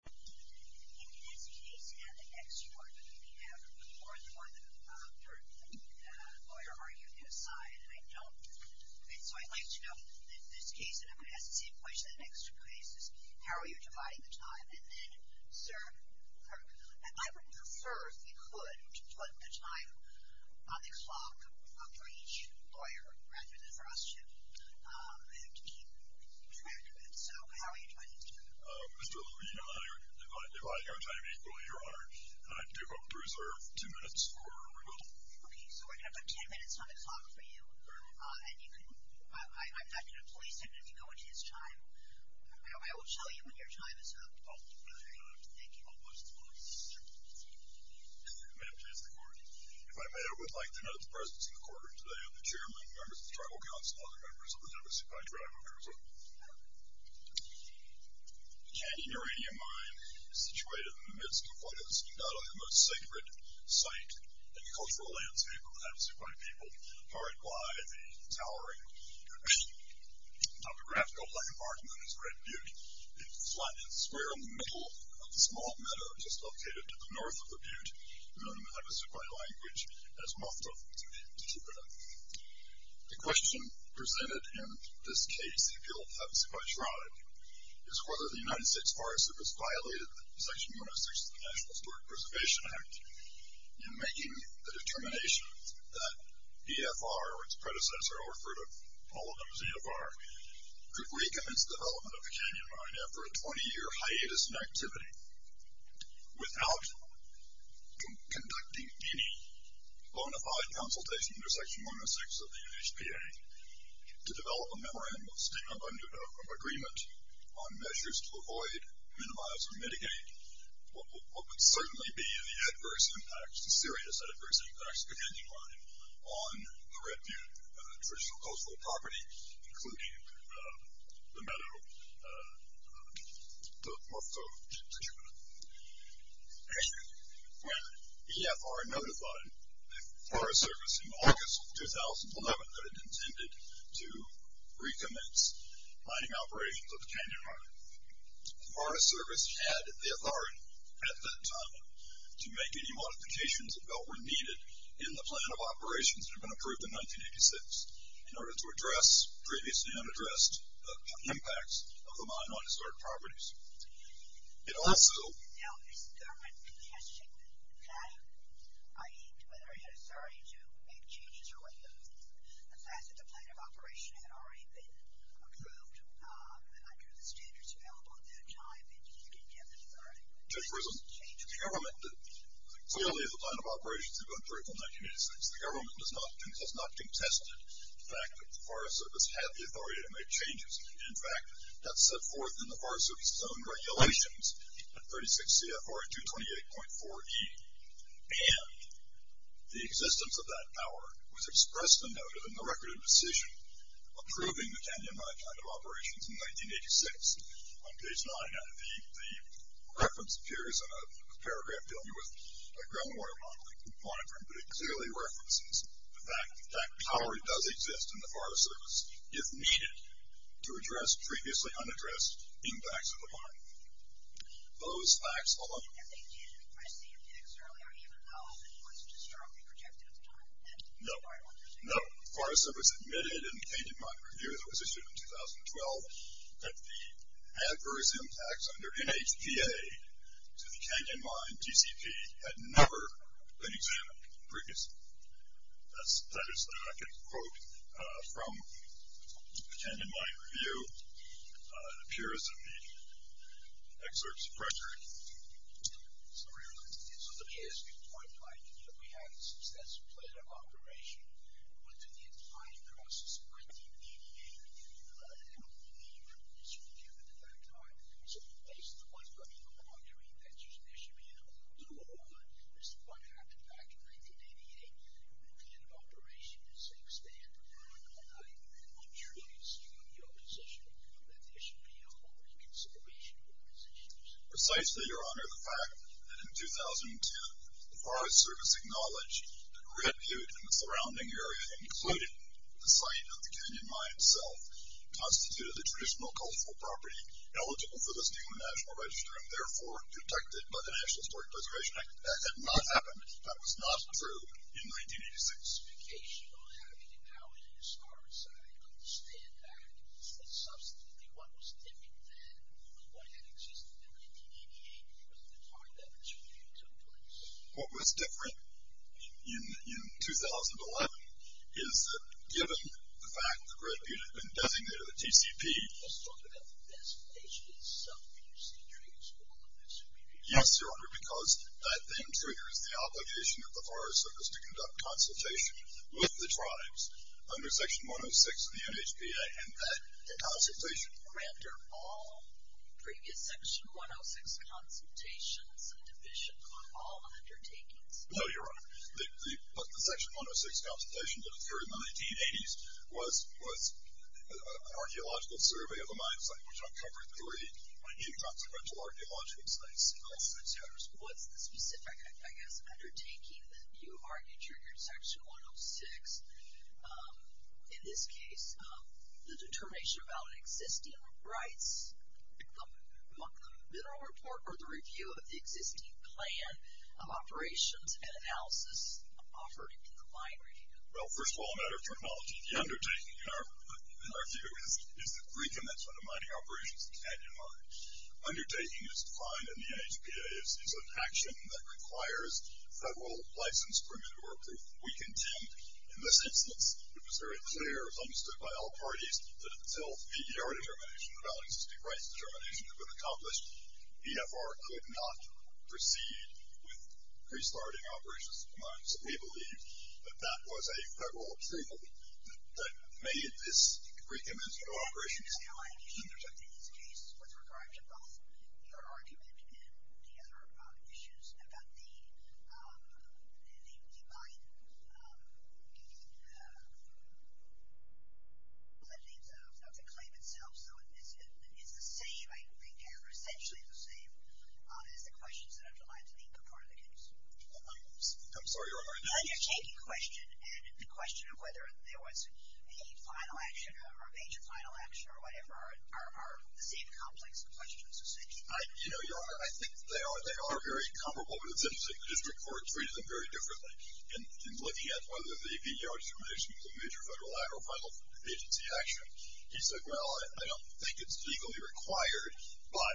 In this case and the next one, we have more and more of a lawyer arguing his side, and I don't... So I'd like to know, in this case, and I'm going to ask the same question in the next two cases, how are you dividing the time? And then, sir, I would prefer, if you could, to put the time on the clock for each lawyer, rather than for us to keep track of it. So how are you trying to do that? Mr. Levine, I divide your time equally, Your Honor, and I do hope to reserve two minutes for rebuttal. Okay, so we're going to put ten minutes on the clock for you, and you can... I'm not going to police him if you go into his time. I will show you when your time is up. Oh, good. Thank you. Madam Chief of the Court, if I may, I would like to note the presence in the courtroom today of the chairman, members of the Tribal Council, and other members of the Havasupai Tribe of Jerusalem. The Canaanite uranium mine is situated in the midst of what is undoubtedly the most sacred site in the cultural landscape of the Havasupai people, powered by the towering topographical landmark known as Red Butte, a flat square in the middle of a small meadow just located to the north of the Butte, known in the Havasupai language as Mothta, to Jupiter. The question presented in this case, if you'll, of the Havasupai Tribe, is whether the United States Forest Service violated the Section 106 of the National Historic Preservation Act in making the determination that EFR, or its predecessor, I'll refer to all of them as EFR, could recommence development of the canyon mine after a 20-year hiatus in activity without conducting any bona fide consultation under Section 106 of the UNHPA to develop a memorandum of agreement on measures to avoid, minimize, or mitigate what would certainly be the adverse impacts, the serious adverse impacts of the canyon mine on the Red Butte traditional coastal property, including the meadow north of Jupiter. When EFR notified the Forest Service in August of 2011 that it intended to recommence mining operations of the canyon mine, the Forest Service had the authority at that time to make any modifications that were needed in the plan of operations that had been approved in 1986 in order to address previously unaddressed impacts of the mine on historic properties. It also... Now, is the government contesting that, i.e., whether it had authority to make changes or what have you, the fact that the plan of operation had already been approved under the standards available at that time, Judge Rizzo? The government... Clearly, the plan of operations had been approved in 1986. The government has not contested the fact that the Forest Service had the authority to make changes. In fact, that's set forth in the Forest Service's own regulations at 36 CFR 228.4E, and the existence of that power was expressed and noted in the record of decision approving the canyon mine kind of operations in 1986. On page 9, the reference appears in a paragraph dealing with a ground water monitoring component, but it clearly references the fact that that power does exist in the Forest Service, if needed, to address previously unaddressed impacts of the mine. Those facts alone... And they did request CFDX earlier, even though it was just strongly projected at the time? No. The Forest Service admitted in the Canyon Mine Review that was issued in 2012 that the adverse impacts under NHPA to the Canyon Mine DCP had never been examined previously. That is the record of the quote from the Canyon Mine Review. It appears in the excerpts of Frederick. Sorry. Let me ask you a point, Mike. You know, we had a successful plan of operation. We went through the entire process of 1988, and we didn't even know how many years we were given at that time. So, based on what you're arguing, that there should be an overall rule of law, this is what happened back in 1988, and the plan of operation is to expand the power of the mine and make sure that it's in a good position, that there should be a whole reconsideration of the position. Precisely, Your Honor, the fact that in 2002, the Forest Service acknowledged that repute in the surrounding area, including the site of the Canyon Mine itself, constituted the traditional cultural property eligible for listing on the National Register and, therefore, detected by the National Historic Preservation Act, that did not happen. That was not approved in 1986. I have a specification on having it now in the historic site. I understand that. But, subsequently, what was different then than what had existed in 1988 because of the time that this review took place? What was different in 2011 is that, given the fact that the repute had been designated a TCP... Let's talk about the designation itself. Did you see triggers for all of this? Yes, Your Honor, because that then triggers the obligation of the Forest Service to conduct consultation with the tribes under Section 106 of the NHPA, and that consultation... After all previous Section 106 consultations and divisions on all undertakings? No, Your Honor. The Section 106 consultation that occurred in the 1980s was an archaeological survey of the mine site, which uncovered three inconsequential archaeological sites in all six years. What's the specific, I guess, undertaking that you argued triggered Section 106? In this case, the determination about existing rights, the mineral report or the review of the existing plan of operations and analysis offered in the mine review? Well, first of all, a matter of terminology, the undertaking in our view is the recommencement of mining operations in Canyon Mine. Undertaking, as defined in the NHPA, is an action that requires federal license, permit, or approval. We contend, in this instance, it was very clear, as understood by all parties, that until PDR determination, the Valid Existing Rights determination, had been accomplished, EFR could not proceed with restarting operations in the mine. So we believe that that was a federal approval that made this recommencement of operations in Canyon Mine In this case, with regard to both your argument and the other issues about the mine, the claims of the claim itself, it's the same, I think, essentially the same, as the questions that underlined the part of the case. I'm sorry, you're on mute. The undertaking question and the question of whether there was a final action or a major final action, or whatever, are the same complex questions. You know, I think they are very comparable, but it's interesting that this report treats them very differently. In looking at whether the EFR determination was a major federal, lateral, or final agency action, he said, well, I don't think it's legally required, but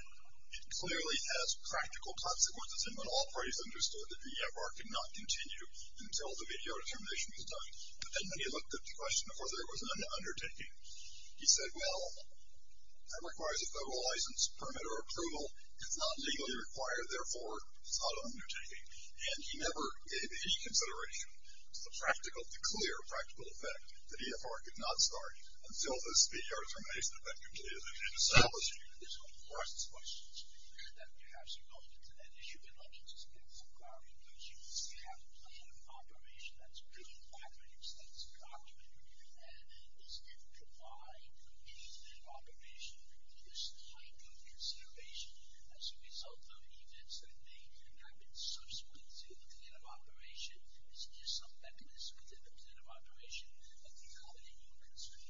it clearly has practical consequences, and when all parties understood that EFR could not continue until the EFR determination was done, and then when he looked at the question of whether there was an undertaking, he said, well, that requires a federal license, permit, or approval. It's not legally required, therefore, it's not an undertaking. And he never gave any consideration to the practical, the clear, practical effect that EFR could not start until the EFR determination had been completed and established that these were complex questions. Yes.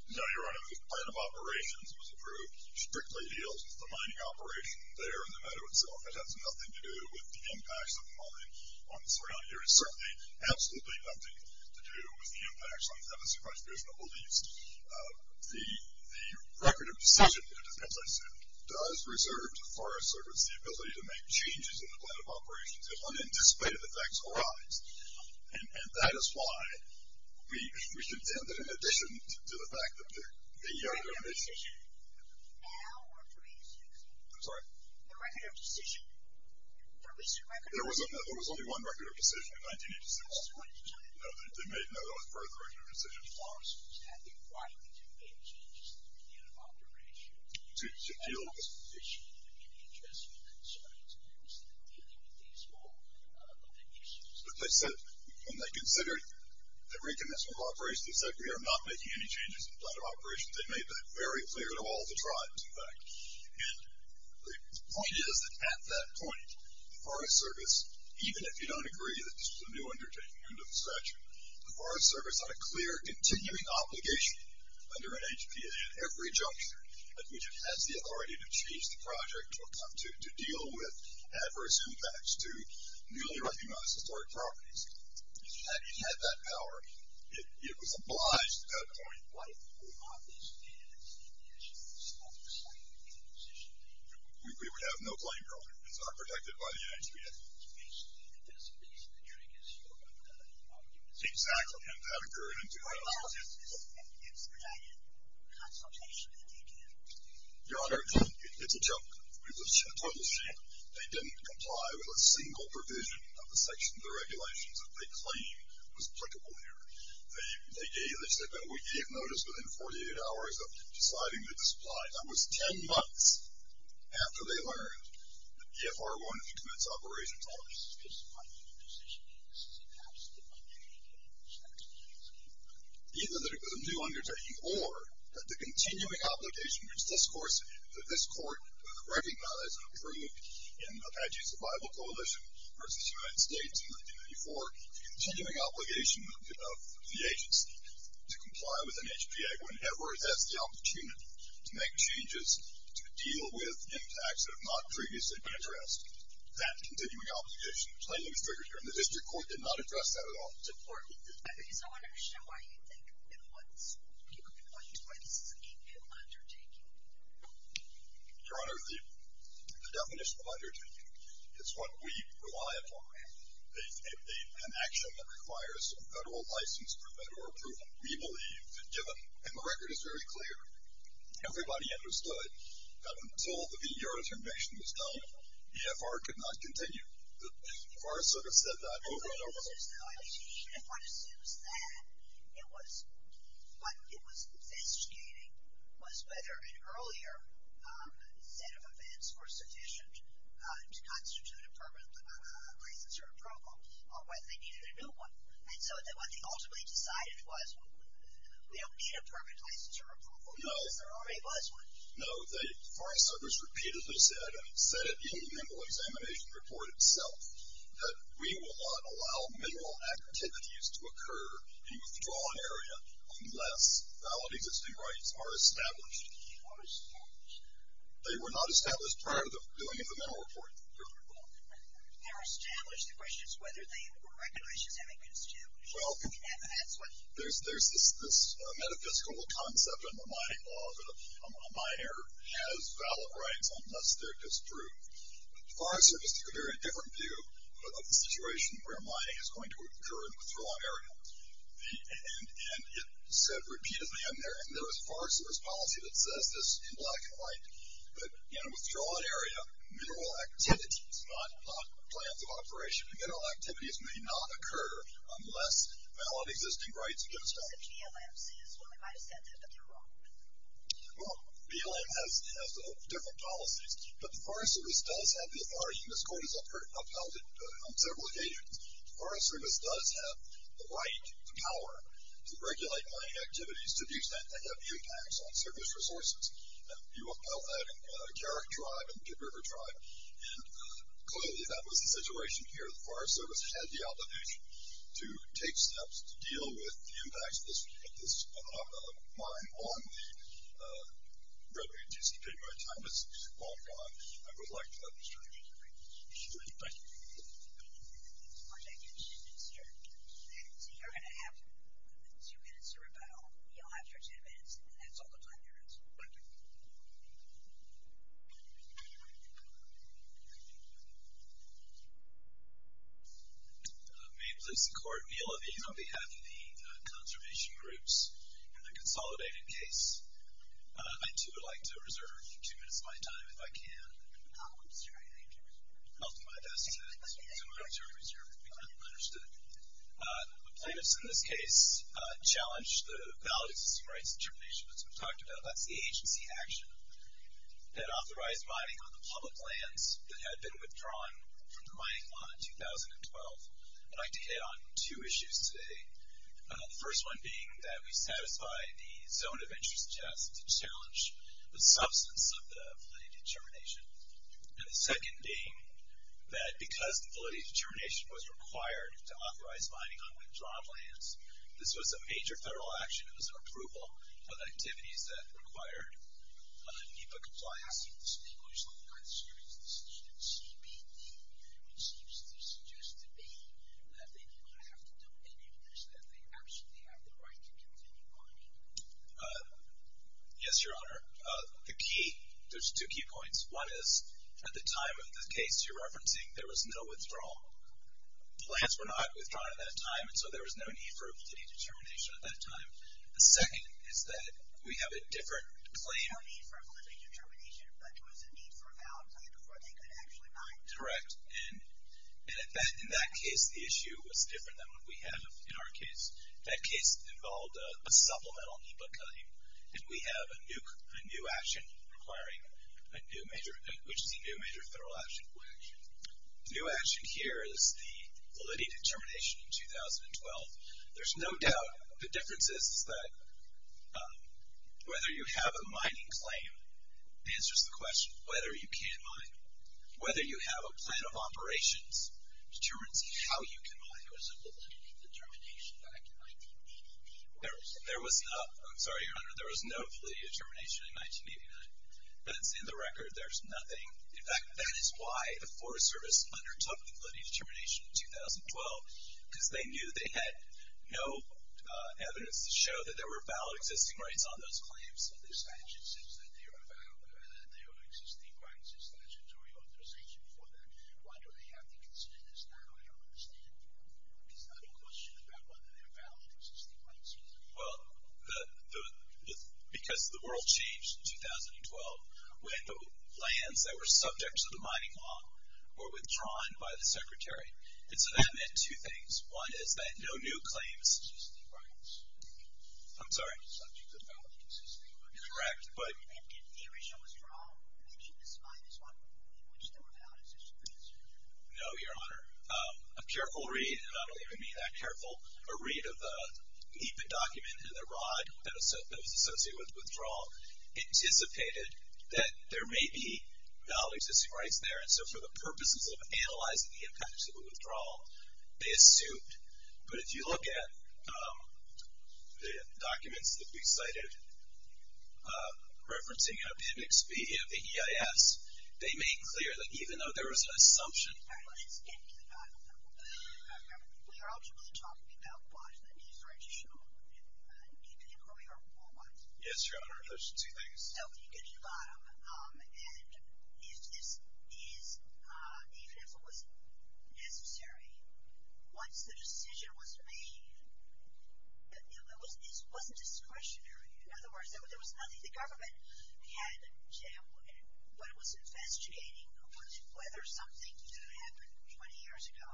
No, you're right. The plan of operations was approved, strictly deals with the mining operation there in the meadow itself. It has nothing to do with the impacts of the mining on the surrounding area. It certainly has absolutely nothing to do with the impacts on the Tennessee Prosperous Noble Leaves. The record of decision, it depends, I assume, does reserve to Forest Service the ability to make changes in the plan of operations if unanticipated effects arise, and that is why we should intend that in addition to the fact that the EFR determination. I'm sorry. There was only one record of decision in 1986. No, they made, no, that was part of the record of decision. To deal with this position. But they said, when they considered the recommencement of operations, they said we are not making any changes in the plan of operations. They made that very clear to all the tribes, in fact. And the point is that at that point, the Forest Service, even if you don't agree that this was a new undertaking under the statute, the Forest Service had a clear continuing obligation under NHPA at every juncture at which it has the authority to change the project or come to deal with adverse impacts to newly recognized historic properties. Had it had that power, it was obliged at that point. We would have no claim here on it. It's not protected by the NHPA. Exactly, and that occurred in 2008. Your Honor, it's a joke. It's a total shame. They didn't comply with a single provision of the section of the regulations that they claimed was applicable here. They gave notice within 48 hours of deciding to disapply. That was 10 months after they learned that EFR wanted to commence operations. Either that it was a new undertaking or that the continuing obligation that this Court recognized and approved in Apache Survival Coalition versus the United States in 1994, the continuing obligation of the agency to comply with NHPA whenever it has the opportunity to make changes to deal with impacts that have not previously been addressed. That continuing obligation plainly was triggered here, and the District Court did not address that at all. I want to understand why you think people can point to this as a new undertaking. Your Honor, the definition of undertaking is what we rely upon, an action that requires a federal license for federal approval. We believe, given, and the record is very clear, everybody understood that until the Eurotermination was done, EFR could not continue. The Forest Service said that over and over. No, I mean, if one assumes that, what it was investigating was whether an earlier set of events were sufficient to constitute a permanent license or approval, or whether they needed a new one. And so what they ultimately decided was, we don't need a permanent license or approval because there already was one. No, the Forest Service repeatedly said, and said it in the Mineral Examination Report itself, that we will not allow mineral activities to occur in a withdrawn area unless valid existing rights are established. Are established? They were not established prior to the filling of the Mineral Report, Your Honor. They were established. The question is whether they were recognized as having been established. Well, there's this metaphysical concept in the mining law that a miner has valid rights unless they're disproved. The Forest Service took a very different view of the situation where mining is going to occur in a withdrawn area. And it said repeatedly in there, and there was a Forest Service policy that says this in black and white, that in a withdrawn area, mineral activities, not plans of operation, mineral activities may not occur unless valid existing rights are established. I don't know if BLM says what we might have said there, but they're wrong. Well, BLM has different policies, but the Forest Service does have the authority, and this Court has upheld it on several occasions, the Forest Service does have the right, the power, to regulate mining activities to the extent that they have impacts on service resources. And you upheld that in Carrick Tribe and River Tribe, and clearly that was the situation here. The Forest Service had the obligation to take steps to deal with the impacts of this mining law and the regulatory disputes. My time has long gone. I would like to have a discussion. Thank you. Thank you. Okay. Thank you, sir. So you're going to have two minutes to rebuttal. You'll have your ten minutes, and that's all the time there is. Thank you. Thank you. May it please the Court, Neil Levine on behalf of the conservation groups in the consolidated case. I, too, would like to reserve two minutes of my time if I can. I'll do my best to reserve as you're understood. The plaintiffs in this case challenged the Validation System Rights determination that's been talked about. That's the agency action that authorized mining on the public lands that had been withdrawn from the mining law in 2012. And I'd like to hit on two issues today. The first one being that we satisfy the zone of interest test to challenge the substance of the validity determination. And the second being that because the validity determination was required to authorize mining on withdrawn lands, this was a major federal action. It was an approval of the activities that required NEPA compliance. Mr. Nagler, is that not serious? This seems to suggest to me that they do not have to do any of this, that they absolutely have the right to continue mining. Yes, Your Honor. The key, there's two key points. One is, at the time of the case you're referencing, there was no withdrawal. The lands were not withdrawn at that time, and so there was no need for a validity determination at that time. The second is that we have a different claim. There was no need for a validity determination, but there was a need for a valid claim before they could actually mine. Correct. And in that case, the issue was different than what we have in our case. That case involved a supplemental NEPA claim. And we have a new action requiring a new major, which is a new major federal action. What action? The new action here is the validity determination in 2012. There's no doubt the difference is that whether you have a mining claim answers the question of whether you can mine. Whether you have a plan of operations determines how you can mine. There was a validity determination back in 1989. There was not. I'm sorry, Your Honor. There was no validity determination in 1989. That's in the record. There's nothing. In fact, that is why the Forest Service undertook the validity determination in 2012, because they knew they had no evidence to show that there were valid existing rights on those claims and their statutes, that there are existing rights and statutory authorization for that. Why do they have to consider this now? I don't understand. It's not a question about whether there are valid existing rights. Well, because the world changed in 2012. When the lands that were subjects of the mining law were withdrawn by the Secretary. And so that meant two things. One is that no new claims. Existing rights. I'm sorry? Subjects of valid existing rights. Correct, but. In the original withdrawal, you mentioned this mine is one in which there were valid existing rights. No, Your Honor. A careful read, and I don't even mean that careful, a read of the EIPA document and the rod that was associated with withdrawal anticipated that there may be valid existing rights there. And so for the purposes of analyzing the impacts of the withdrawal, they assumed. But if you look at the documents that we cited, referencing the index B of the EIS, they made clear that even though there was an assumption. All right. Let's get to the document. Okay. So you're ultimately talking about bonds, that these rights are shown in the EIPA report, right? Yes, Your Honor. Those are two things. So if you go to the bottom, and if this is even if it was necessary, once the decision was made, it wasn't discretionary. In other words, there was nothing the government had when it was investigating whether something that had happened 20 years ago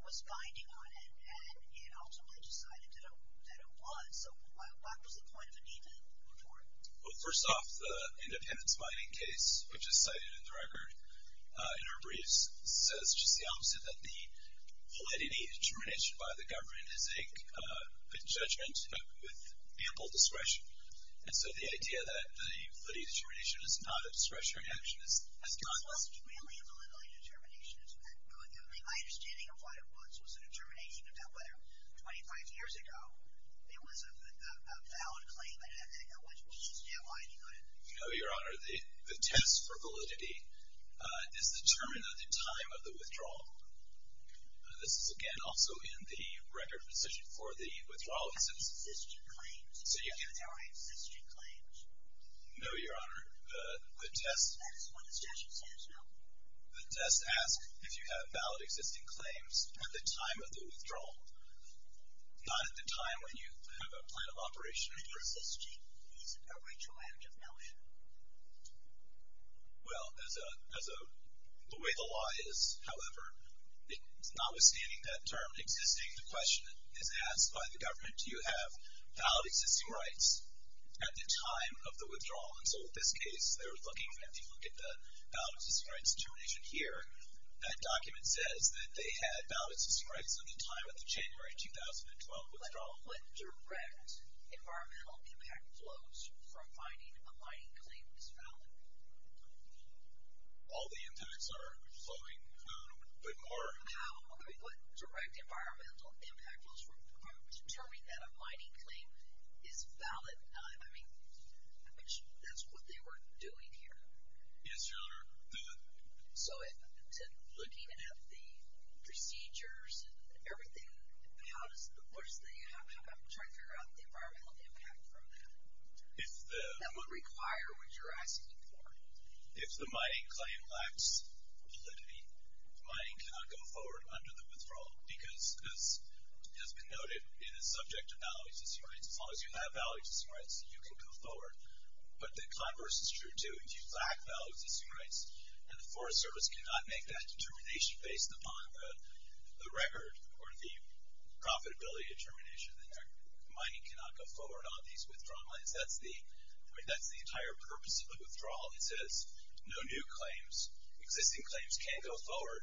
was binding on it, and ultimately decided that it was. So what was the point of the EIPA report? Well, first off, the independence binding case, which is cited in the record in our briefs, says just the opposite, that the validity determination by the government is a judgment with ample discretion. And so the idea that the validity determination is not a discretionary action is not. It wasn't really a validity determination. My understanding of what it was was a determination about whether 25 years ago, it was a valid claim that had to go, which we should stand by and deny it. No, Your Honor. The test for validity is determined at the time of the withdrawal. This is, again, also in the record position for the withdrawal. Existing claims. So you can. Existing claims. No, Your Honor. The test. That is what the statute says now. The test asks if you have valid existing claims at the time of the withdrawal. Not at the time when you have a plan of operation. Well, as a way the law is, however, notwithstanding that term existing, the question is asked by the government, do you have valid existing rights at the time of the withdrawal? And so in this case, they were looking, if you look at the valid existing rights determination here, that document says that they had valid existing rights at the time of the January 2012 withdrawal. But what direct environmental impact flows from finding a mining claim is valid? All the impacts are flowing, but more. But how? What direct environmental impact flows from determining that a mining claim is valid? I mean, that's what they were doing here. Yes, Your Honor. So looking at the procedures and everything, how does, what is the, I'm trying to figure out the environmental impact from that. That would require what you're asking for. If the mining claim lacks validity, mining cannot go forward under the withdrawal because, as has been noted, it is subject to valid existing rights. As long as you have valid existing rights, you can go forward. But the converse is true too. If you lack valid existing rights and the Forest Service cannot make that determination based upon the record or the profitability determination, then the mining cannot go forward on these withdrawal claims. That's the, I mean that's the entire purpose of the withdrawal. It says no new claims, existing claims can't go forward,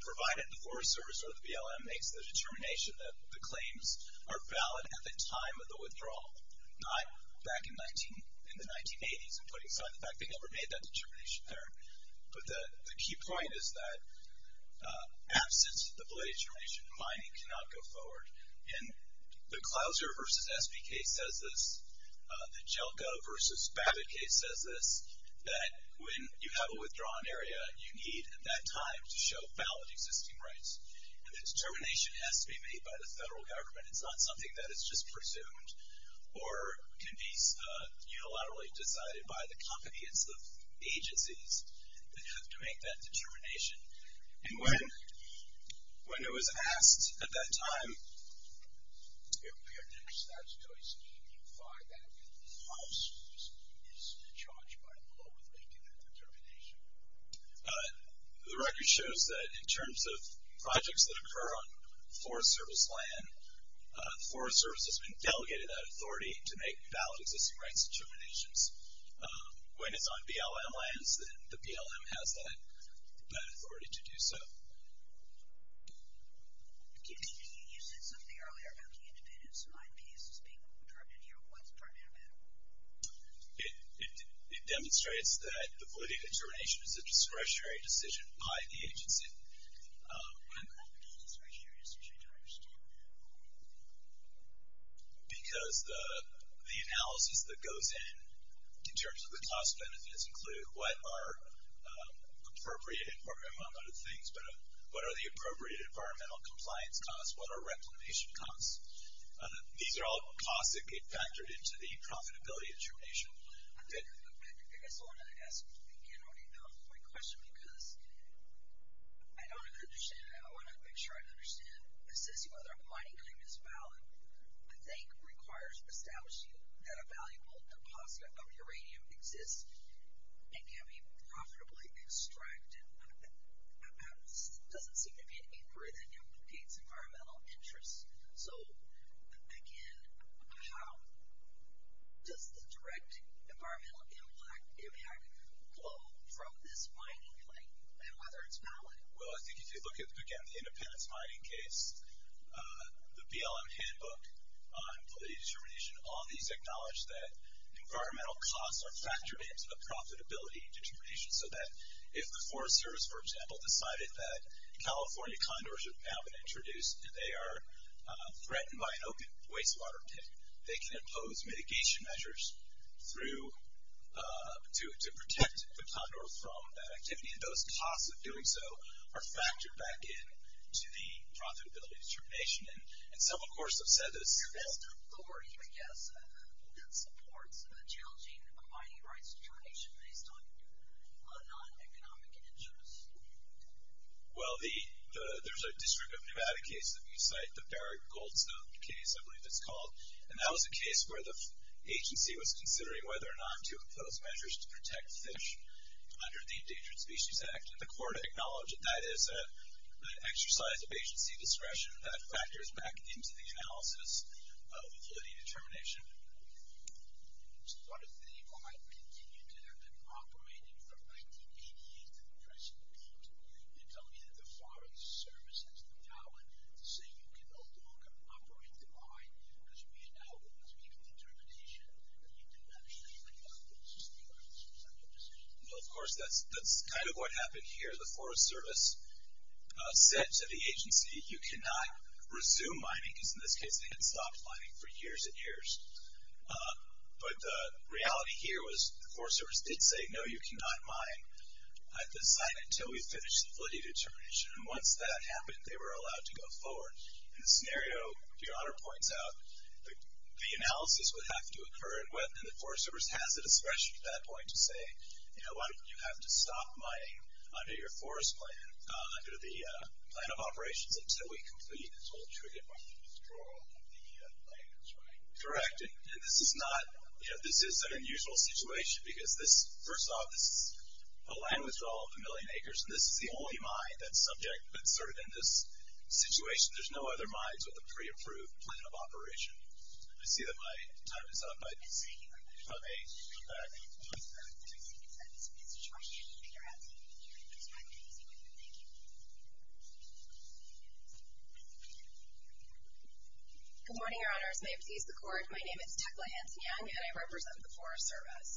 provided the Forest Service or the BLM makes the determination that the claims are valid at the time of the withdrawal, not back in the 1980s and putting aside the fact they never made that determination there. But the key point is that absence of the validity determination, mining cannot go forward. And the Clouser v. SBK says this, the Jelko v. Babbitt case says this, that when you have a withdrawn area, you need at that time to show valid existing rights. And the determination has to be made by the federal government. It's not something that is just presumed or can be unilaterally decided by the company. It's the agencies that have to make that determination. And when, when it was asked at that time, if there's that choice, do you defy that if the Forest Service is charged by law with making that determination? The record shows that in terms of projects that occur on Forest Service land, the Forest Service has been delegated that authority to make valid existing rights determinations. When it's on BLM lands, then the BLM has that authority to do so. You said something earlier about the independence of IPs as being determined here. What's determined about it? It demonstrates that the validity determination is a discretionary decision by the agency. How confident is this discretionary decision? I don't understand. Because the analysis that goes in, in terms of the cost benefits, include what are appropriate environmental things, but what are the appropriate environmental compliance costs, what are reclamation costs. These are all costs that get factored into the profitability determination. I guess I want to ask, again, my question because I don't understand it. I want to make sure I understand. It says whether a mining claim is valid, I think, requires establishing that a valuable deposit of uranium exists and can be profitably extracted. That doesn't seem to be an inquiry that implicates environmental interests. Again, how does the direct environmental impact flow from this mining claim and whether it's valid? Well, I think if you look at, again, the independence mining case, the BLM handbook on validity determination, all these acknowledge that environmental costs are factored into the profitability determination so that if the Forest Service, for example, decided that California condors have now been introduced and they are threatened by an open wastewater pit, they can impose mitigation measures to protect the condor from that activity. And those costs of doing so are factored back into the profitability determination. And some, of course, have said this. What is the best authority, I guess, that supports the challenging mining rights determination based on non-economic interests? Well, there's a District of Nevada case that we cite, the Barrick Goldstone case, I believe it's called. And that was a case where the agency was considering whether or not to impose measures to protect fish under the Endangered Species Act. And the court acknowledged that that is an exercise of agency discretion that factors back into the analysis of validity determination. So what if the mine continued to have been operating from 1988 to the present date? You're telling me that the Forest Service has the power to say, you can no longer operate the mine because we have now made the determination that you can no longer operate the mine. Is that your position? Well, of course, that's kind of what happened here. The Forest Service said to the agency, you cannot resume mining. Because in this case, they had stopped mining for years and years. But the reality here was the Forest Service did say, no, you cannot mine. I have to sign it until we finish the validity determination. And once that happened, they were allowed to go forward. And the scenario, your Honor points out, the analysis would have to occur and the Forest Service has a discretion at that point to say, you know what? You have to stop mining under your forest plan, under the plan of operations until we complete this whole triggered mine withdrawal of the land that's mined. Correct. And this is not, you know, this is an unusual situation. Because this, first off, this is a land withdrawal of a million acres. And this is the only mine that's subject, that's sort of in this situation. There's no other mines with a pre-approved plan of operation. I see that my time is up. Okay. Good morning, Your Honors. May it please the Court, my name is Tecla Hanson-Young, and I represent the Forest Service.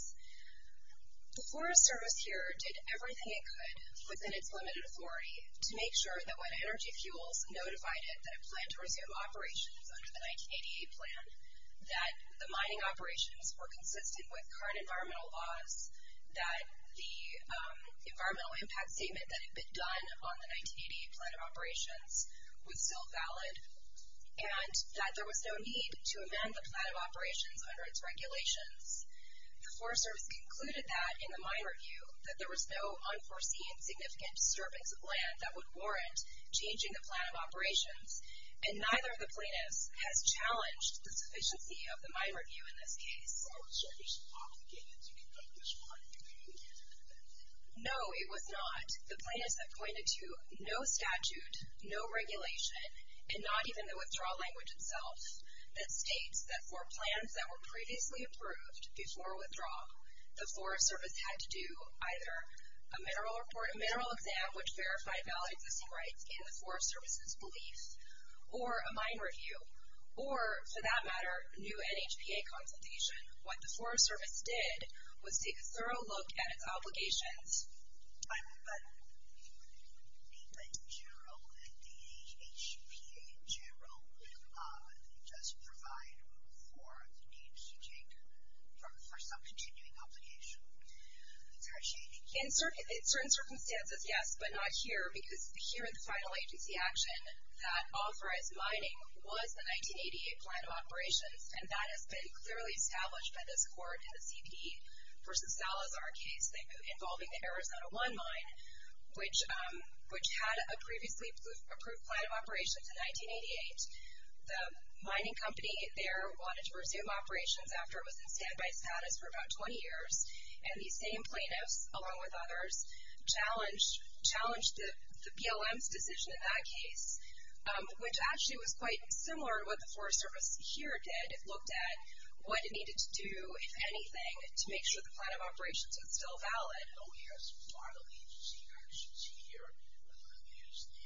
The Forest Service here did everything it could within its limited authority to make sure that when Energy Fuels notified it that it planned to resume operations under the 1988 plan, that the mining operations were consistent with current environmental laws, that the environmental impact statement that had been done on the 1988 plan of operations was still valid, and that there was no need to amend the plan of operations under its regulations. The Forest Service concluded that in the mine review, that there was no unforeseen significant disturbance of land that would warrant changing the plan of operations. And neither of the plaintiffs has challenged the sufficiency of the mine review in this case. I'm sorry, there's an obligation that you can only respond if you've been in a candidate event. No, it was not. The plaintiffs have pointed to no statute, no regulation, and not even the withdrawal language itself that states that for plans that were previously approved before withdrawal, the Forest Service had to do either a mineral report, a mineral exam which verified valid existing rights in the Forest Service's belief, or a mine review, or for that matter, a new NHPA consultation. What the Forest Service did was take a thorough look at its obligations. But if you were to name the NHPA in general, does it provide for the need for some continuing obligation? In certain circumstances, yes, but not here, because here in the final agency action, that authorized mining was the 1988 plan of operations, and that has been clearly established by this court in the C.P. v. Salazar case involving the Arizona 1 mine, which had a previously approved plan of operations in 1988. The mining company there wanted to resume operations after it was in standby status for about 20 years. And these same plaintiffs, along with others, challenged the PLM's decision in that case, which actually was quite similar to what the Forest Service here did. It looked at what it needed to do, if anything, to make sure the plan of operations was still valid. I know you have some final agency actions here. There's the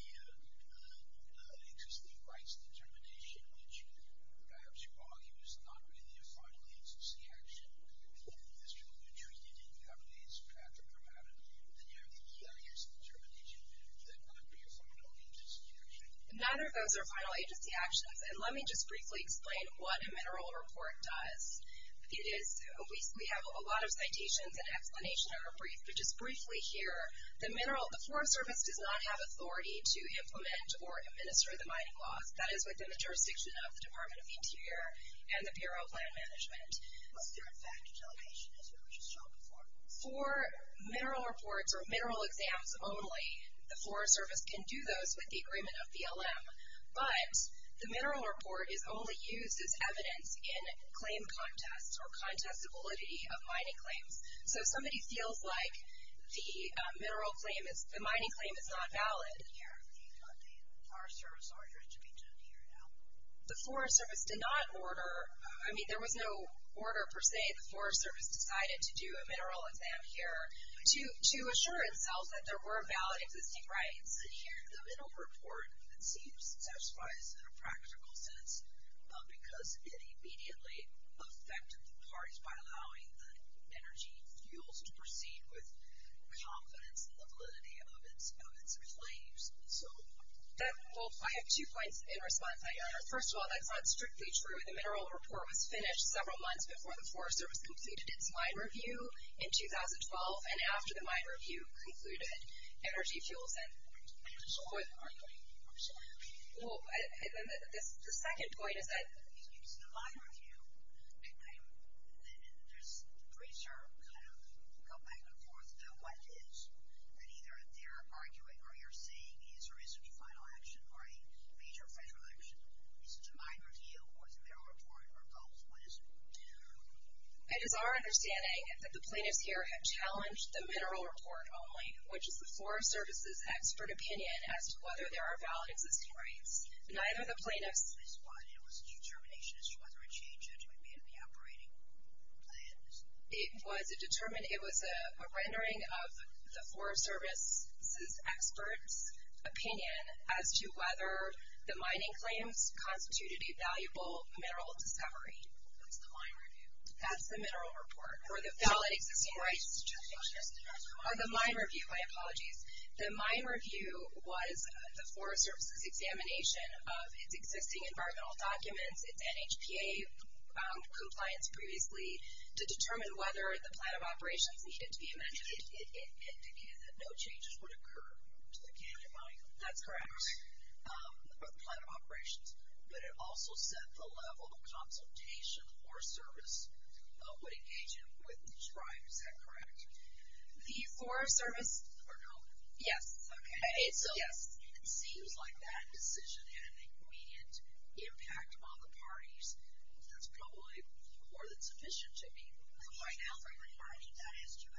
existing rights determination, which perhaps you argue is not really a final agency action. If this is what you're treating it as, perhaps or perhaps not, then you have the EIS determination that could be a final agency action. Neither of those are final agency actions. And let me just briefly explain what a mineral report does. We have a lot of citations and explanations that are brief, but just briefly here, the Forest Service does not have authority to implement or administer the mining laws. That is within the jurisdiction of the Department of Interior and the Bureau of Land Management. For mineral reports or mineral exams only, the Forest Service can do those with the agreement of the PLM. But the mineral report is only used as evidence in claim contests or contestability of mining claims. So if somebody feels like the mining claim is not valid, the Forest Service did not order, I mean there was no order per se. The Forest Service decided to do a mineral exam here to assure itself that there were valid existing rights. And here, the mineral report, it seems, satisfies in a practical sense because it immediately affected the parties by allowing the energy fuels to proceed with confidence in the validity of its claims. I have two points in response, Your Honor. First of all, that's not strictly true. The mineral report was finished several months before the Forest Service completed its mine review in 2012, and after the mine review concluded energy fuels and oil. I'm sorry. Well, the second point is that... It's the mine review. Then there's research kind of going back and forth about what it is that either they're arguing or you're saying is or isn't a final action or a major federal action. Is it a mine review or is it a mineral report or both? What does it do? It is our understanding that the plaintiffs here have challenged the mineral report only, which is the Forest Service's expert opinion as to whether there are valid existing rights. Neither the plaintiffs... It was a determination as to whether a change had to be made in the operating plans. It was a rendering of the Forest Service's experts' opinion as to whether the mining claims constituted a valuable mineral discovery. That's the mine review. That's the mineral report. Or the valid existing rights. Or the mine review. My apologies. The mine review was the Forest Service's examination of its existing environmental documents, its NHPA compliance previously, to determine whether the plan of operations needed to be amended. It indicated that no changes would occur to the canyon mine. That's correct. Or the plan of operations. But it also set the level of consultation for service that would engage it with the tribe. Is that correct? The Forest Service... Or no? Yes. Okay. It seems like that decision had an immediate impact on the parties. That's probably more than sufficient to me right now. Are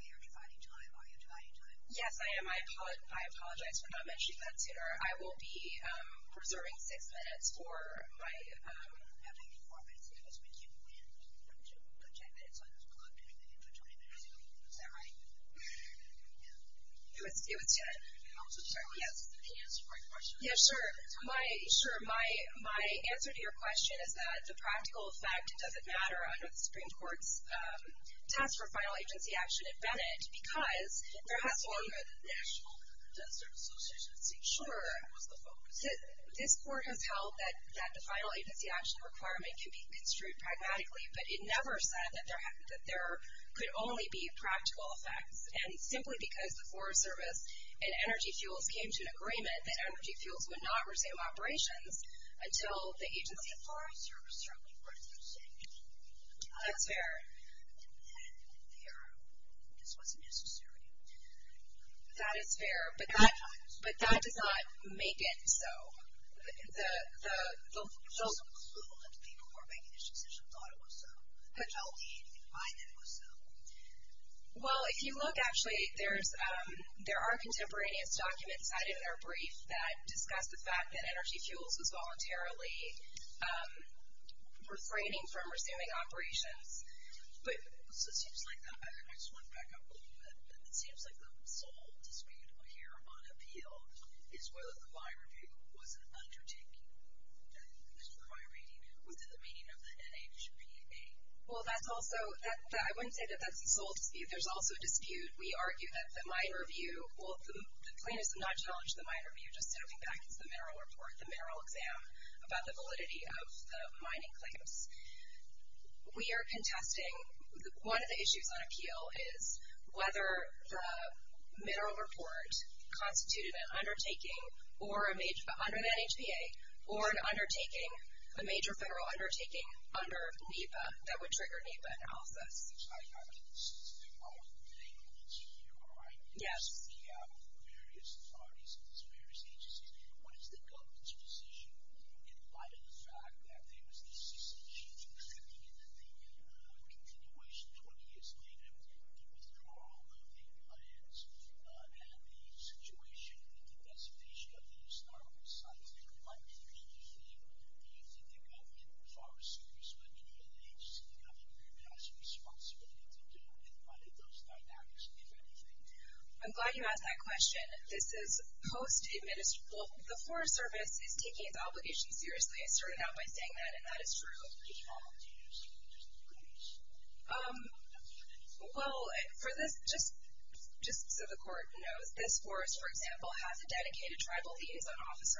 you dividing time? Are you dividing time? Yes, I am. I apologize for not mentioning that sooner. I will be preserving six minutes for my... Having four minutes, it was when you planned to put ten minutes on the clock to make it to 20 minutes. Is that right? Yes. It was ten. I'm sorry. Can you answer my question? Yeah, sure. My answer to your question is that the practical effect doesn't matter under the Supreme Court's task for final agency action in Bennett because there has always been a national service agency. Sure. That was the focus. This court has held that the final agency action requirement can be construed pragmatically, but it never said that there could only be practical effects. And simply because the Forest Service and Energy Fuels came to an agreement that Energy Fuels would not resume operations until the Agency of Forest Service structure were to be changed. That's fair. And then this wasn't necessary. That is fair, but that does not make it so. There's no clue that the people who are making this decision thought it was so. How do we even find that it was so? Well, if you look, actually, there are contemporaneous documents cited in our brief that discuss the fact that Energy Fuels was voluntarily refraining from resuming operations. So it seems like that. I just want to back up a little bit. It seems like the sole dispute here on appeal is whether the mine review was an undertaking that was prioritized within the meaning of the NHPA. Well, I wouldn't say that that's the sole dispute. There's also a dispute. We argue that the mine review, well, the plaintiffs have not challenged the mine review, just stepping back into the mineral report, the mineral exam, about the validity of the mining claims. We are contesting one of the issues on appeal is whether the mineral report constituted an undertaking under the NHPA or an undertaking, a major federal undertaking under NEPA that would trigger NEPA analysis. I think this is the only thing that's here, right? Yes. It's the NEPA, various authorities, various agencies. What is the government's position in light of the fact that there was this decision in the continuation 20 years later, the withdrawal of the clients and the situation that the designation of these sites might be a major thing? Do you think the government, the Forest Service, the community of the HCPA, has a responsibility to deal with what it does not actually do anything? I'm glad you asked that question. This is post-administrative. Well, the Forest Service is taking its obligation seriously. I started out by saying that, and that is true. Do you have opportunities to increase? Well, for this, just so the court knows,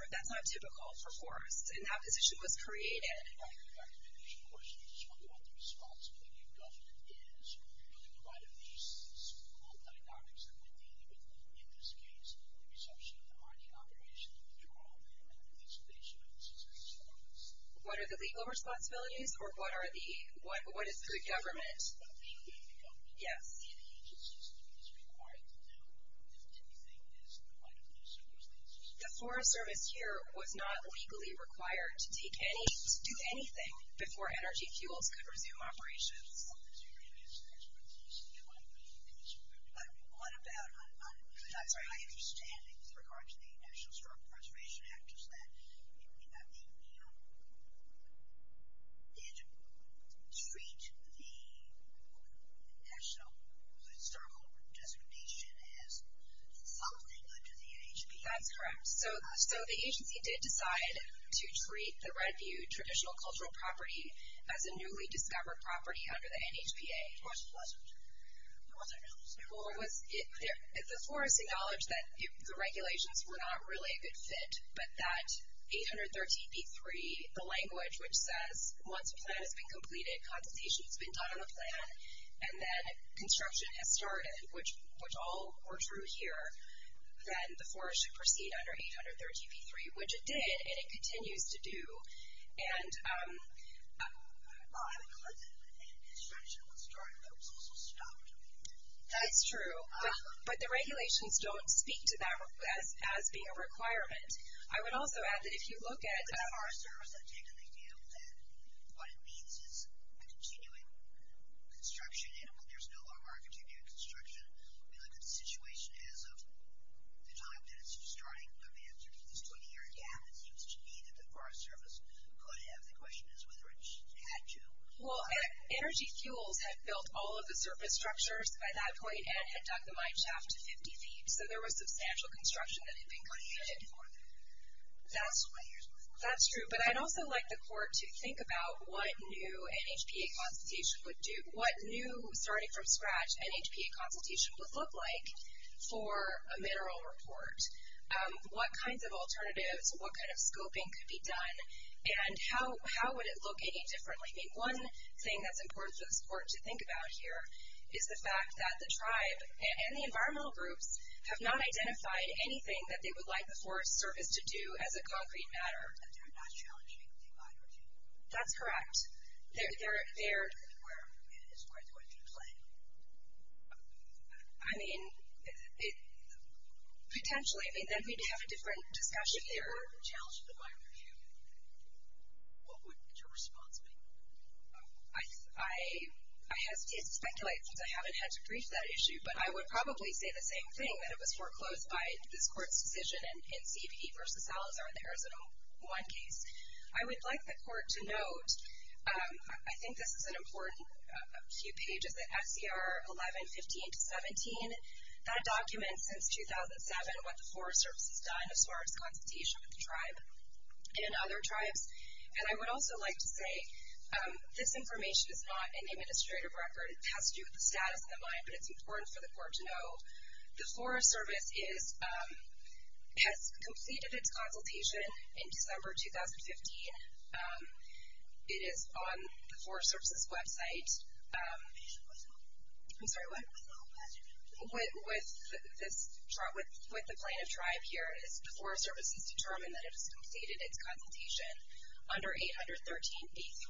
That's not typical for forests. And that position was created. In your documentation, of course, you just talked about the responsibility of government. Is it really part of these multi-documents that we're dealing with, in this case, resumption of the mining operation, withdrawal, and the installation of these historic sites? What are the legal responsibilities, or what is the government? The legal responsibility. Yes. And the agency system is required to know if anything is in light of those circumstances. The Forest Service here was not legally required to do anything before energy fuels could resume operations. What about, I'm sorry, my understanding with regard to the National Starboard Preservation Act is that it did treat the National Starboard designation as something that the HCPA So the agency did decide to treat the Red View traditional cultural property as a newly discovered property under the NHPA. Was it? The forest acknowledged that the regulations were not really a good fit, but that 813b3, the language which says, once a plan has been completed, consultation has been done on the plan, and then construction has started, which all were true here, then the forest should proceed under 813b3, which it did, and it continues to do. And the construction was started, but it was also stopped. That's true. But the regulations don't speak to that as being a requirement. I would also add that if you look at our service, I take it they feel that what it means is a continuing construction, and there's no longer a continuing construction. If you look at the situation as of the time that it's starting, there may have been at least a 20-year gap, it seems to me, that the forest service could have. The question is whether it had to. Well, Energy Fuels had built all of the surface structures by that point and had dug the mineshaft to 50 feet, so there was substantial construction that had been completed. But the agency did more than that. That's true, but I'd also like the court to think about what new NHPA consultation would do. What new, starting from scratch, NHPA consultation would look like for a mineral report. What kinds of alternatives, what kind of scoping could be done, and how would it look any differently? One thing that's important for this court to think about here is the fact that the tribe and the environmental groups have not identified anything that they would like the forest service to do as a concrete matter. That they're not challenging the environment. That's correct. I don't know where it is quite going to play. I mean, potentially. I mean, then we'd have a different discussion there. If they were challenged with the mine review, what would your response be? I hesitate to speculate, since I haven't had to brief that issue, but I would probably say the same thing, that it was foreclosed by this court's decision in C.P.E. v. Salazar in the Arizona 1 case. I would like the court to note, I think this is an important few pages, that F.C.R. 1115-17, that documents since 2007 what the forest service has done as far as consultation with the tribe and other tribes. And I would also like to say this information is not an administrative record. It has to do with the status of the mine, but it's important for the court to know. The forest service has completed its consultation in December 2015. It is on the forest service's website. I'm sorry, what? With the plan of tribe here, the forest service has determined that it has completed its consultation under 813-A3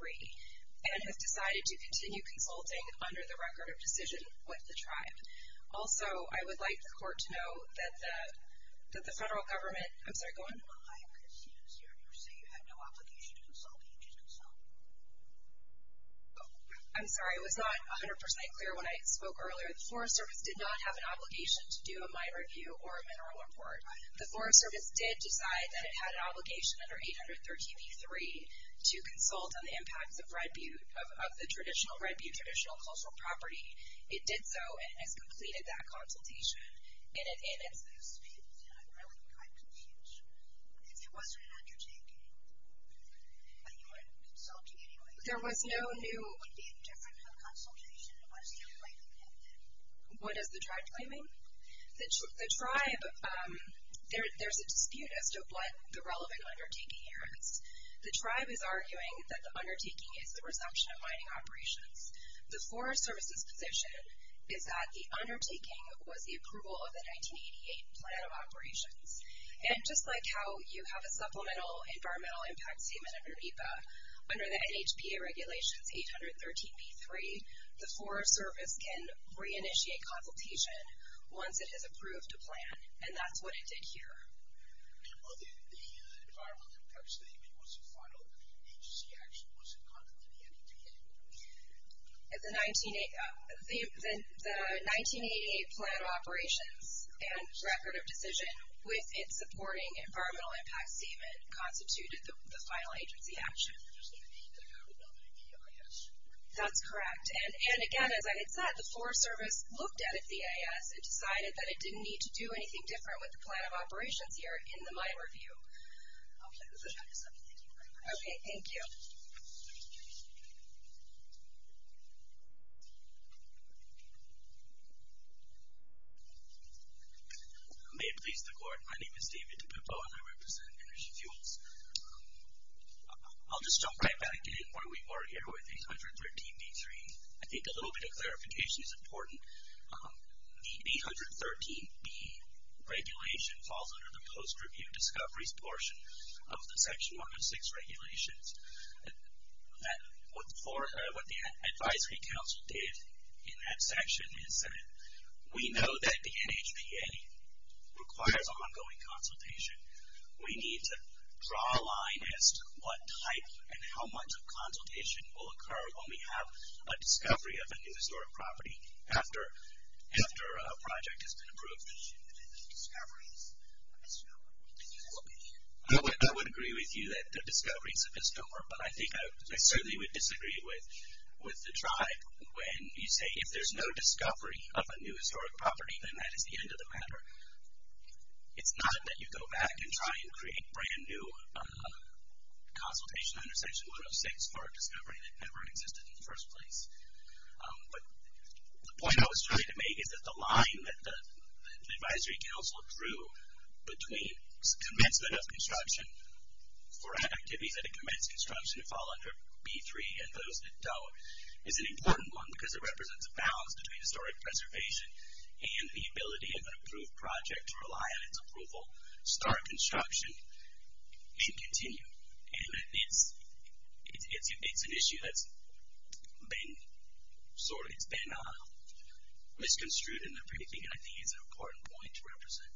and has decided to continue consulting under the record of decision with the tribe. Also, I would like the court to note that the federal government... I'm sorry, go ahead. I am conceding this hearing. You say you had no obligation to consult. You did consult. I'm sorry, it was not 100% clear when I spoke earlier. The forest service did not have an obligation to do a mine review or a mineral report. The forest service did decide that it had an obligation under 813-A3 to consult on the impacts of the Red Butte traditional cultural property. It did so and has completed that consultation in its new state. And I'm really quite confused. If it wasn't an undertaking, you weren't consulting anyway. There was no new... It would be a different consultation. What is the tribe claiming? The tribe, there's a dispute as to what the relevant undertaking here is. The tribe is arguing that the undertaking is the resumption of mining operations. The forest service's position is that the undertaking was the approval of the 1988 plan of operations. And just like how you have a supplemental environmental impact statement under NEPA, under the NHPA regulations, 813-A3, the forest service can reinitiate consultation once it has approved a plan, and that's what it did here. Well, the environmental impact statement was a final NEPA agency action. Was it conducted in the NEPA? The 1988 plan of operations and record of decision with its supporting environmental impact statement constituted the final agency action. And there's no need to have another EIS? That's correct. And again, as I had said, the forest service looked at it, the EIS, and decided that it didn't need to do anything different with the plan of operations here in the mine review. Okay, thank you. May it please the Court, my name is David DePippo, and I represent Energy Fuels. I'll just jump right back in where we were here with 813-D3. I think a little bit of clarification is important. The 813-B regulation falls under the post-review discoveries portion of the Section 106 regulations. What the advisory council did in that section is that we know that the NHPA requires ongoing consultation. We need to draw a line as to what type and how much of consultation will occur when we have a discovery of a new historic property after a project has been approved. I would agree with you that the discovery is a misnomer, but I think I certainly would disagree with the tribe when you say if there's no discovery of a new historic property, then that is the end of the matter. It's not that you go back and try and create a brand new consultation under Section 106 for a discovery that never existed in the first place. But the point I was trying to make is that the line that the advisory council drew between commencement of construction for activities that have commenced construction that fall under B3 and those that don't is an important one because it represents a balance between historic preservation and the ability of an approved project to rely on its approval, start construction, and continue. And it's an issue that's been sort of, it's been misconstrued and everything, and I think it's an important point to represent.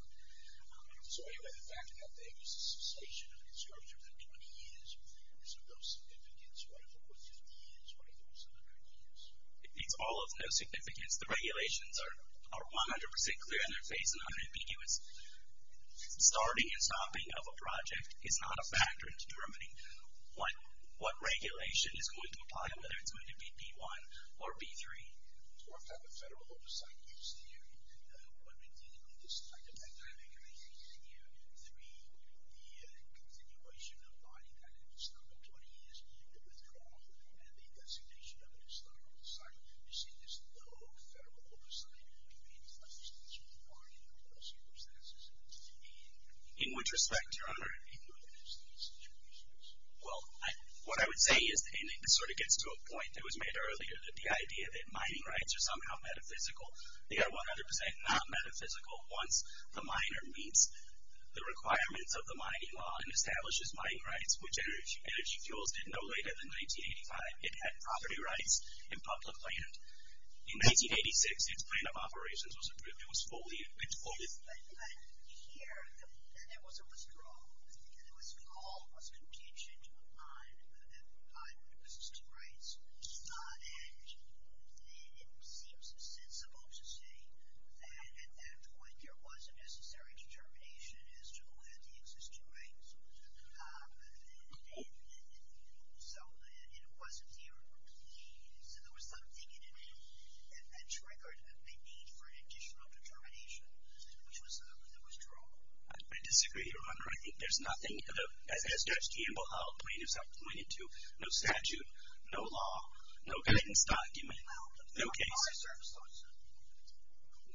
So anyway, the fact that there is a cessation of construction within 20 years or 30 years of no significance, what if it were 15 years, what if it were 100 years? It's all of no significance. The regulations are 100% clear in their face and 100% ambiguous. Starting and stopping of a project is not a factor in determining what regulation is going to apply, whether it's going to be B1 or B3. In which respect, Your Honor? Well, what I would say is, and this sort of gets to a point that was made earlier, the idea that mining rights are somehow metaphysical. They are 100% not metaphysical once the miner meets the requirements of the mining law and establishes mining rights, which energy fuels didn't know later than 1985. It had property rights and public land. In 1986, its plan of operations was approved. It was fully, it was fully approved. But here, there was a withdrawal. And it was called, was contingent on existing rights. And it seems sensible to say that at that point, there was a necessary determination as to who had the existing rights. And so it wasn't here. So there was something in it that triggered a need for an additional determination, which was the withdrawal. I disagree, Your Honor. I think there's nothing, as Judge Campbell outlined, as I pointed to, no statute, no law, no guidance document, no case. No, but the Forest Service does.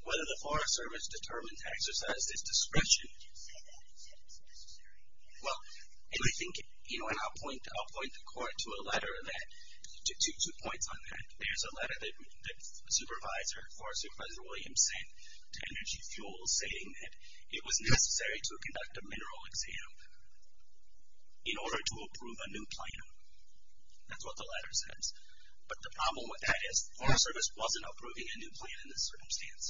Whether the Forest Service determines exercise its discretion. Did you say that it's necessary? Well, and I think, you know, and I'll point the Court to a letter that, to two points on that. There's a letter that the Supervisor, Forest Supervisor Williams sent to Energy Fuels saying that it was necessary to conduct a mineral exam in order to approve a new plan. That's what the letter says. But the problem with that is, the Forest Service wasn't approving a new plan in this circumstance.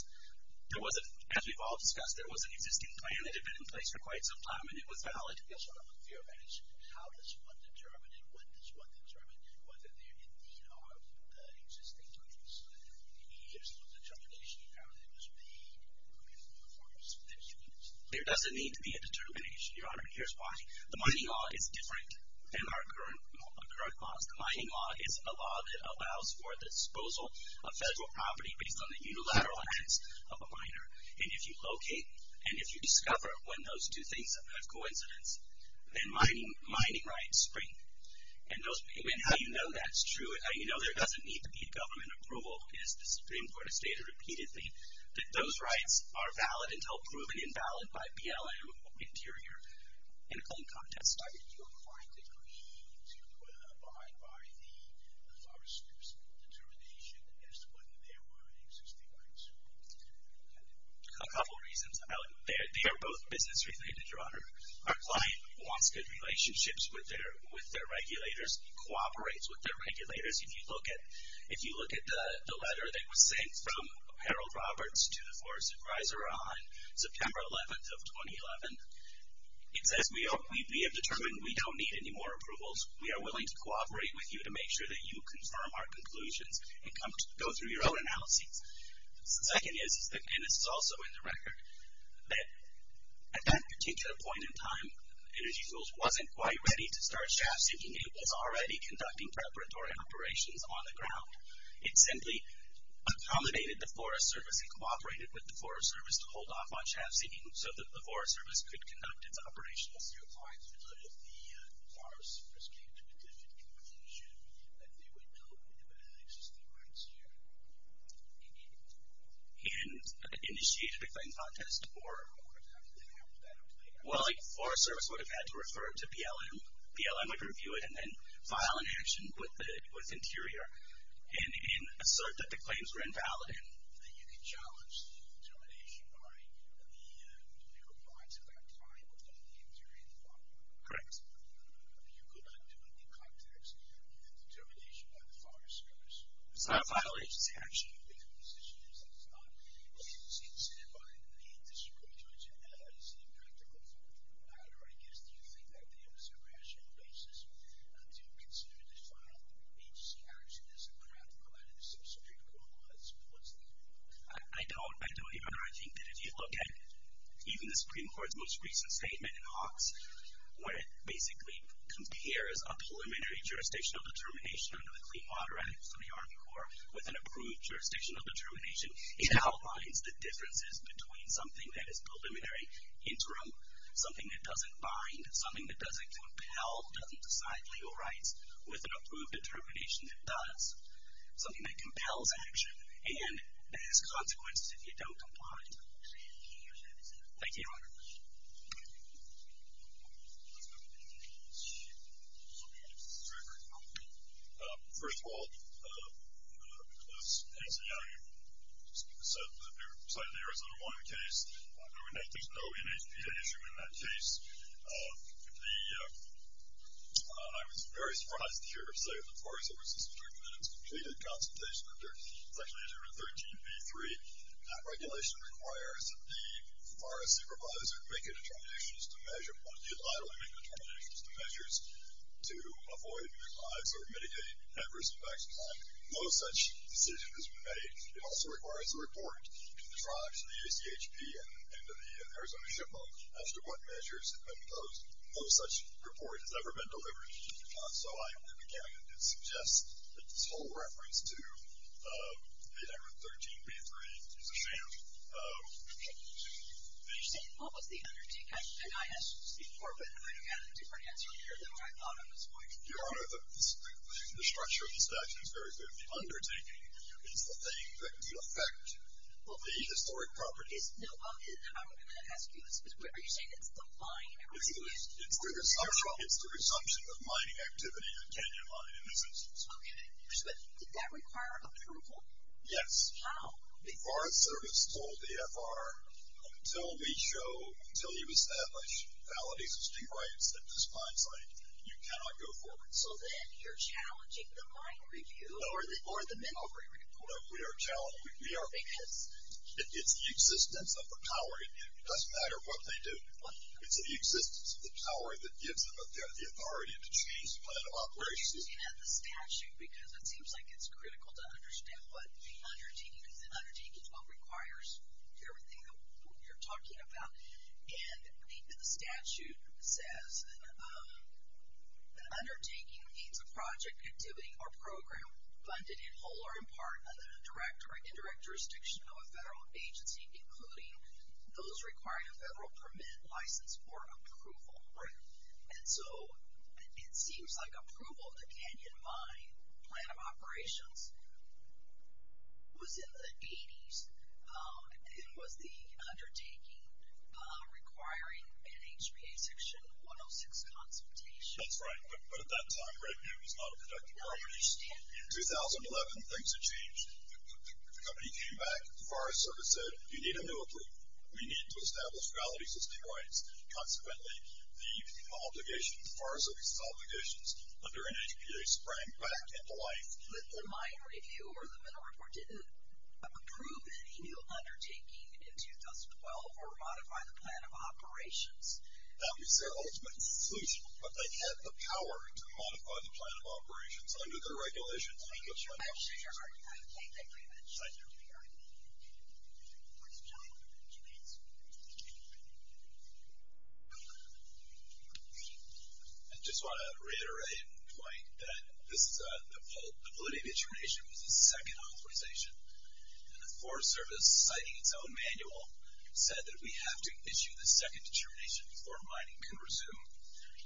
There wasn't, as we've all discussed, there was an existing plan that had been in place for quite some time, and it was valid. Yes, Your Honor, but the fear of that is how does one determine and when does one determine whether there indeed are existing rights? There doesn't need to be a determination, Your Honor, and here's why. The mining law is different than our current laws. The mining law is a law that allows for the disposal of federal property based on the unilateral ends of a miner. And if you locate and if you discover when those two things have coincidenced, then mining rights spring. And how you know that's true, and how you know there doesn't need to be a government approval is the Supreme Court has stated repeatedly that those rights are valid until proven invalid by BLM or Interior. And in context, are you inclined to agree to abide by the Forest Service determination as to whether there were existing rights? A couple of reasons. They are both business related, Your Honor. Our client wants good relationships with their regulators, cooperates with their regulators. If you look at the letter that was sent from Harold Roberts to the Forest Advisor on September 11th of 2011, it says, We have determined we don't need any more approvals. We are willing to cooperate with you to make sure that you confirm our conclusions and go through your own analyses. The second is, and this is also in the record, that at that particular point in time, Energy Tools wasn't quite ready to start shaft sinking. It was already conducting preparatory operations on the ground. It simply accommodated the Forest Service and cooperated with the Forest Service to hold off on shaft sinking so that the Forest Service could conduct its operations. Your client would know that if the Forest Service came to a different conclusion that they would know that there were existing rights here. And initiated a claim contest or... Well, the Forest Service would have had to refer to BLM. BLM would review it and then file an action with Interior and assert that the claims were invalid. You could challenge the determination by the legal clients at that time within the Interior and the Forest Service. Correct. You could not do it in context of the determination by the Forest Service. It's not a final agency action. The position is that it's not. Is it seen by the district judge as impractical for the matter, or I guess do you think that there is a rational basis to consider this final agency action as impractical out of the Supreme Court laws? I don't. I don't even know. I think that if you look at even the Supreme Court's most recent statement in Hawks where it basically compares a preliminary jurisdictional determination under the Clean Water Act for the Army Corps with an approved jurisdictional determination, it outlines the differences between something that is preliminary, interim, something that doesn't bind, something that doesn't compel, doesn't decide legal rights, with an approved determination that does, something that compels action, and that has consequences if you don't comply with it. Thank you. First of all, as Nancy Young said, the Arizona water case, there is no NHPA issue in that case. I was very surprised to hear her say that the Forest Service District has completed consultation under Section 813B-3. That regulation requires that the forest supervisor make a determination as to measures to avoid or mitigate adverse effects, and no such decision has been made. It also requires a report to the tribes, to the ACHP, and to the Arizona SHPO as to what measures have been imposed. No such report has ever been delivered. So I began to suggest that this whole reference to 813B-3 is a sham. What was the undertaking? I asked before, but I had a different answer here than what I thought at this point. Your Honor, the structure of the statute is very good. The undertaking is the thing that could affect the historic properties. No, I'm going to ask you this. Are you saying it's the mining activity? It's the resumption of mining activity in the Kenyon Mine, in this instance. Okay. Did that require a report? Yes. How? The Forest Service told the AFR, until we show, until you establish valid existing rights at this mine site, you cannot go forward. So then you're challenging the mine review? No, we are challenging. It's the existence of the power. It doesn't matter what they do. It's the existence of the power that gives them the authority to change the plan of operations. I'm looking at the statute because it seems like it's critical to understand what the undertaking is. The undertaking is what requires everything that we're talking about. And the statute says the undertaking means a project, activity, or program funded in whole or in part under the direct or indirect jurisdiction of a federal agency, including those requiring a federal permit, license, or approval. Right. And so it seems like approval of the Kenyon Mine plan of operations was in the 80s and was the undertaking requiring an HPA Section 106 consultation. That's right. But at that time, revenue was not a protected property. In 2011, things had changed. The company came back. The Forest Service said you need a new agreement. We need to establish valid existing rights. Consequently, the obligation, the Forest Service's obligations under an HPA, sprang back into life. The mine review or the mineral report didn't approve any new undertaking in 2012 or modify the plan of operations. That was their ultimate solution. But they had the power to modify the plan of operations under the regulations. They could sign it. I just want to reiterate, Dwight, that the validity of the determination was the second authorization. And the Forest Service, citing its own manual, said that we have to issue the second determination before mining can resume.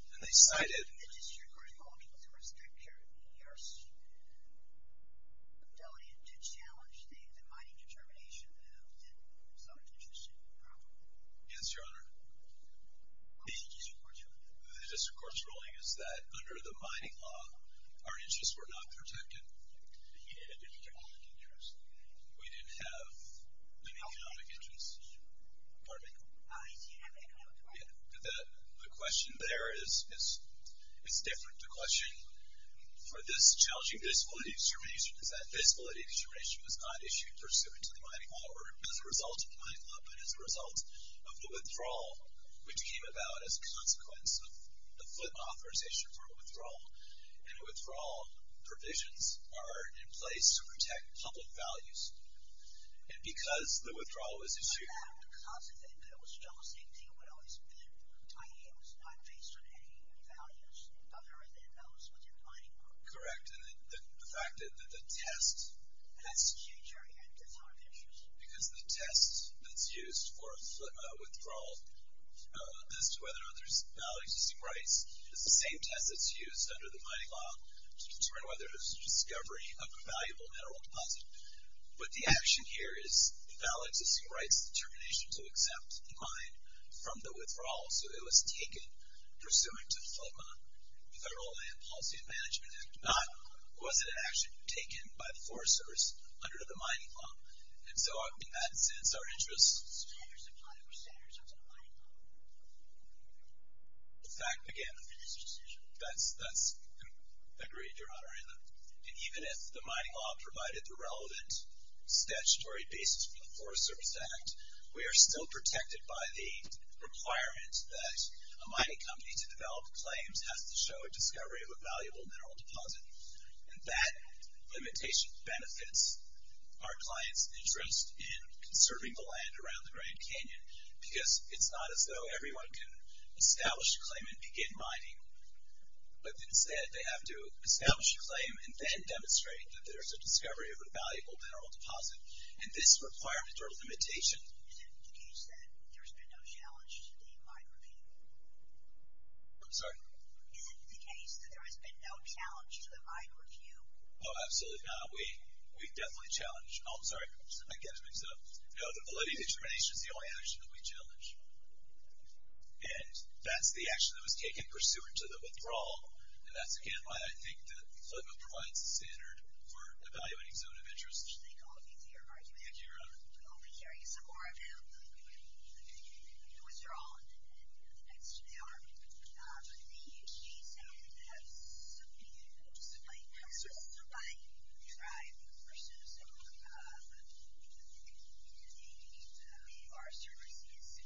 And they cited Yes, Your Honor. The district court's ruling is that under the mining law, our interests were not protected. He didn't have any economic interests. We didn't have any economic interests. Pardon me? The question there is different. The question for this challenging disability determination is that disability determination was not issued pursuant to the mining law or as a result of the mining law, but as a result of the withdrawal, which came about as a consequence of the flip authorization for withdrawal. And withdrawal provisions are in place to protect public values. And because the withdrawal was issued. It was not based on any values other than those within the mining law. Correct. And the fact that the test. Yes, Your Honor. Because the test that's used for withdrawal as to whether or not there's valid existing rights is the same test that's used under the mining law to determine whether there's a discovery of a valuable mineral deposit. But the action here is the valid existing rights determination to accept the mine from the withdrawal. So it was taken pursuant to the Federal Land Policy and Management Act, not was it actually taken by the forest service under the mining law. And so in that sense, our interests. Even if the mining law provided the relevant statutory basis for the Forest Service Act, we are still protected by the requirements that a mining company to develop claims has to show a discovery of a valuable mineral deposit. And that limitation benefits our clients interest in conserving the land around the Grand Canyon, because it's not as though everyone can establish a claim and begin mining. But instead they have to establish a claim and then demonstrate that there's a discovery of a valuable mineral deposit. And this requirement or limitation. Is it the case that there's been no challenge to the mine review? I'm sorry? Is it the case that there has been no challenge to the mine review? Oh, absolutely not. We definitely challenge. Oh, I'm sorry. I get it. No, the validity determination is the only action that we challenge. And that's the action that was taken pursuant to the withdrawal. And that's, again, why I think that Flint provides the standard for evaluating zone of interest. Thank all of you for your argument. Thank you, Your Honor. I'm only curious some more about the withdrawal and the next hour. But in the exchange, I would have something to do with the supply. I'm a person. So. Our services.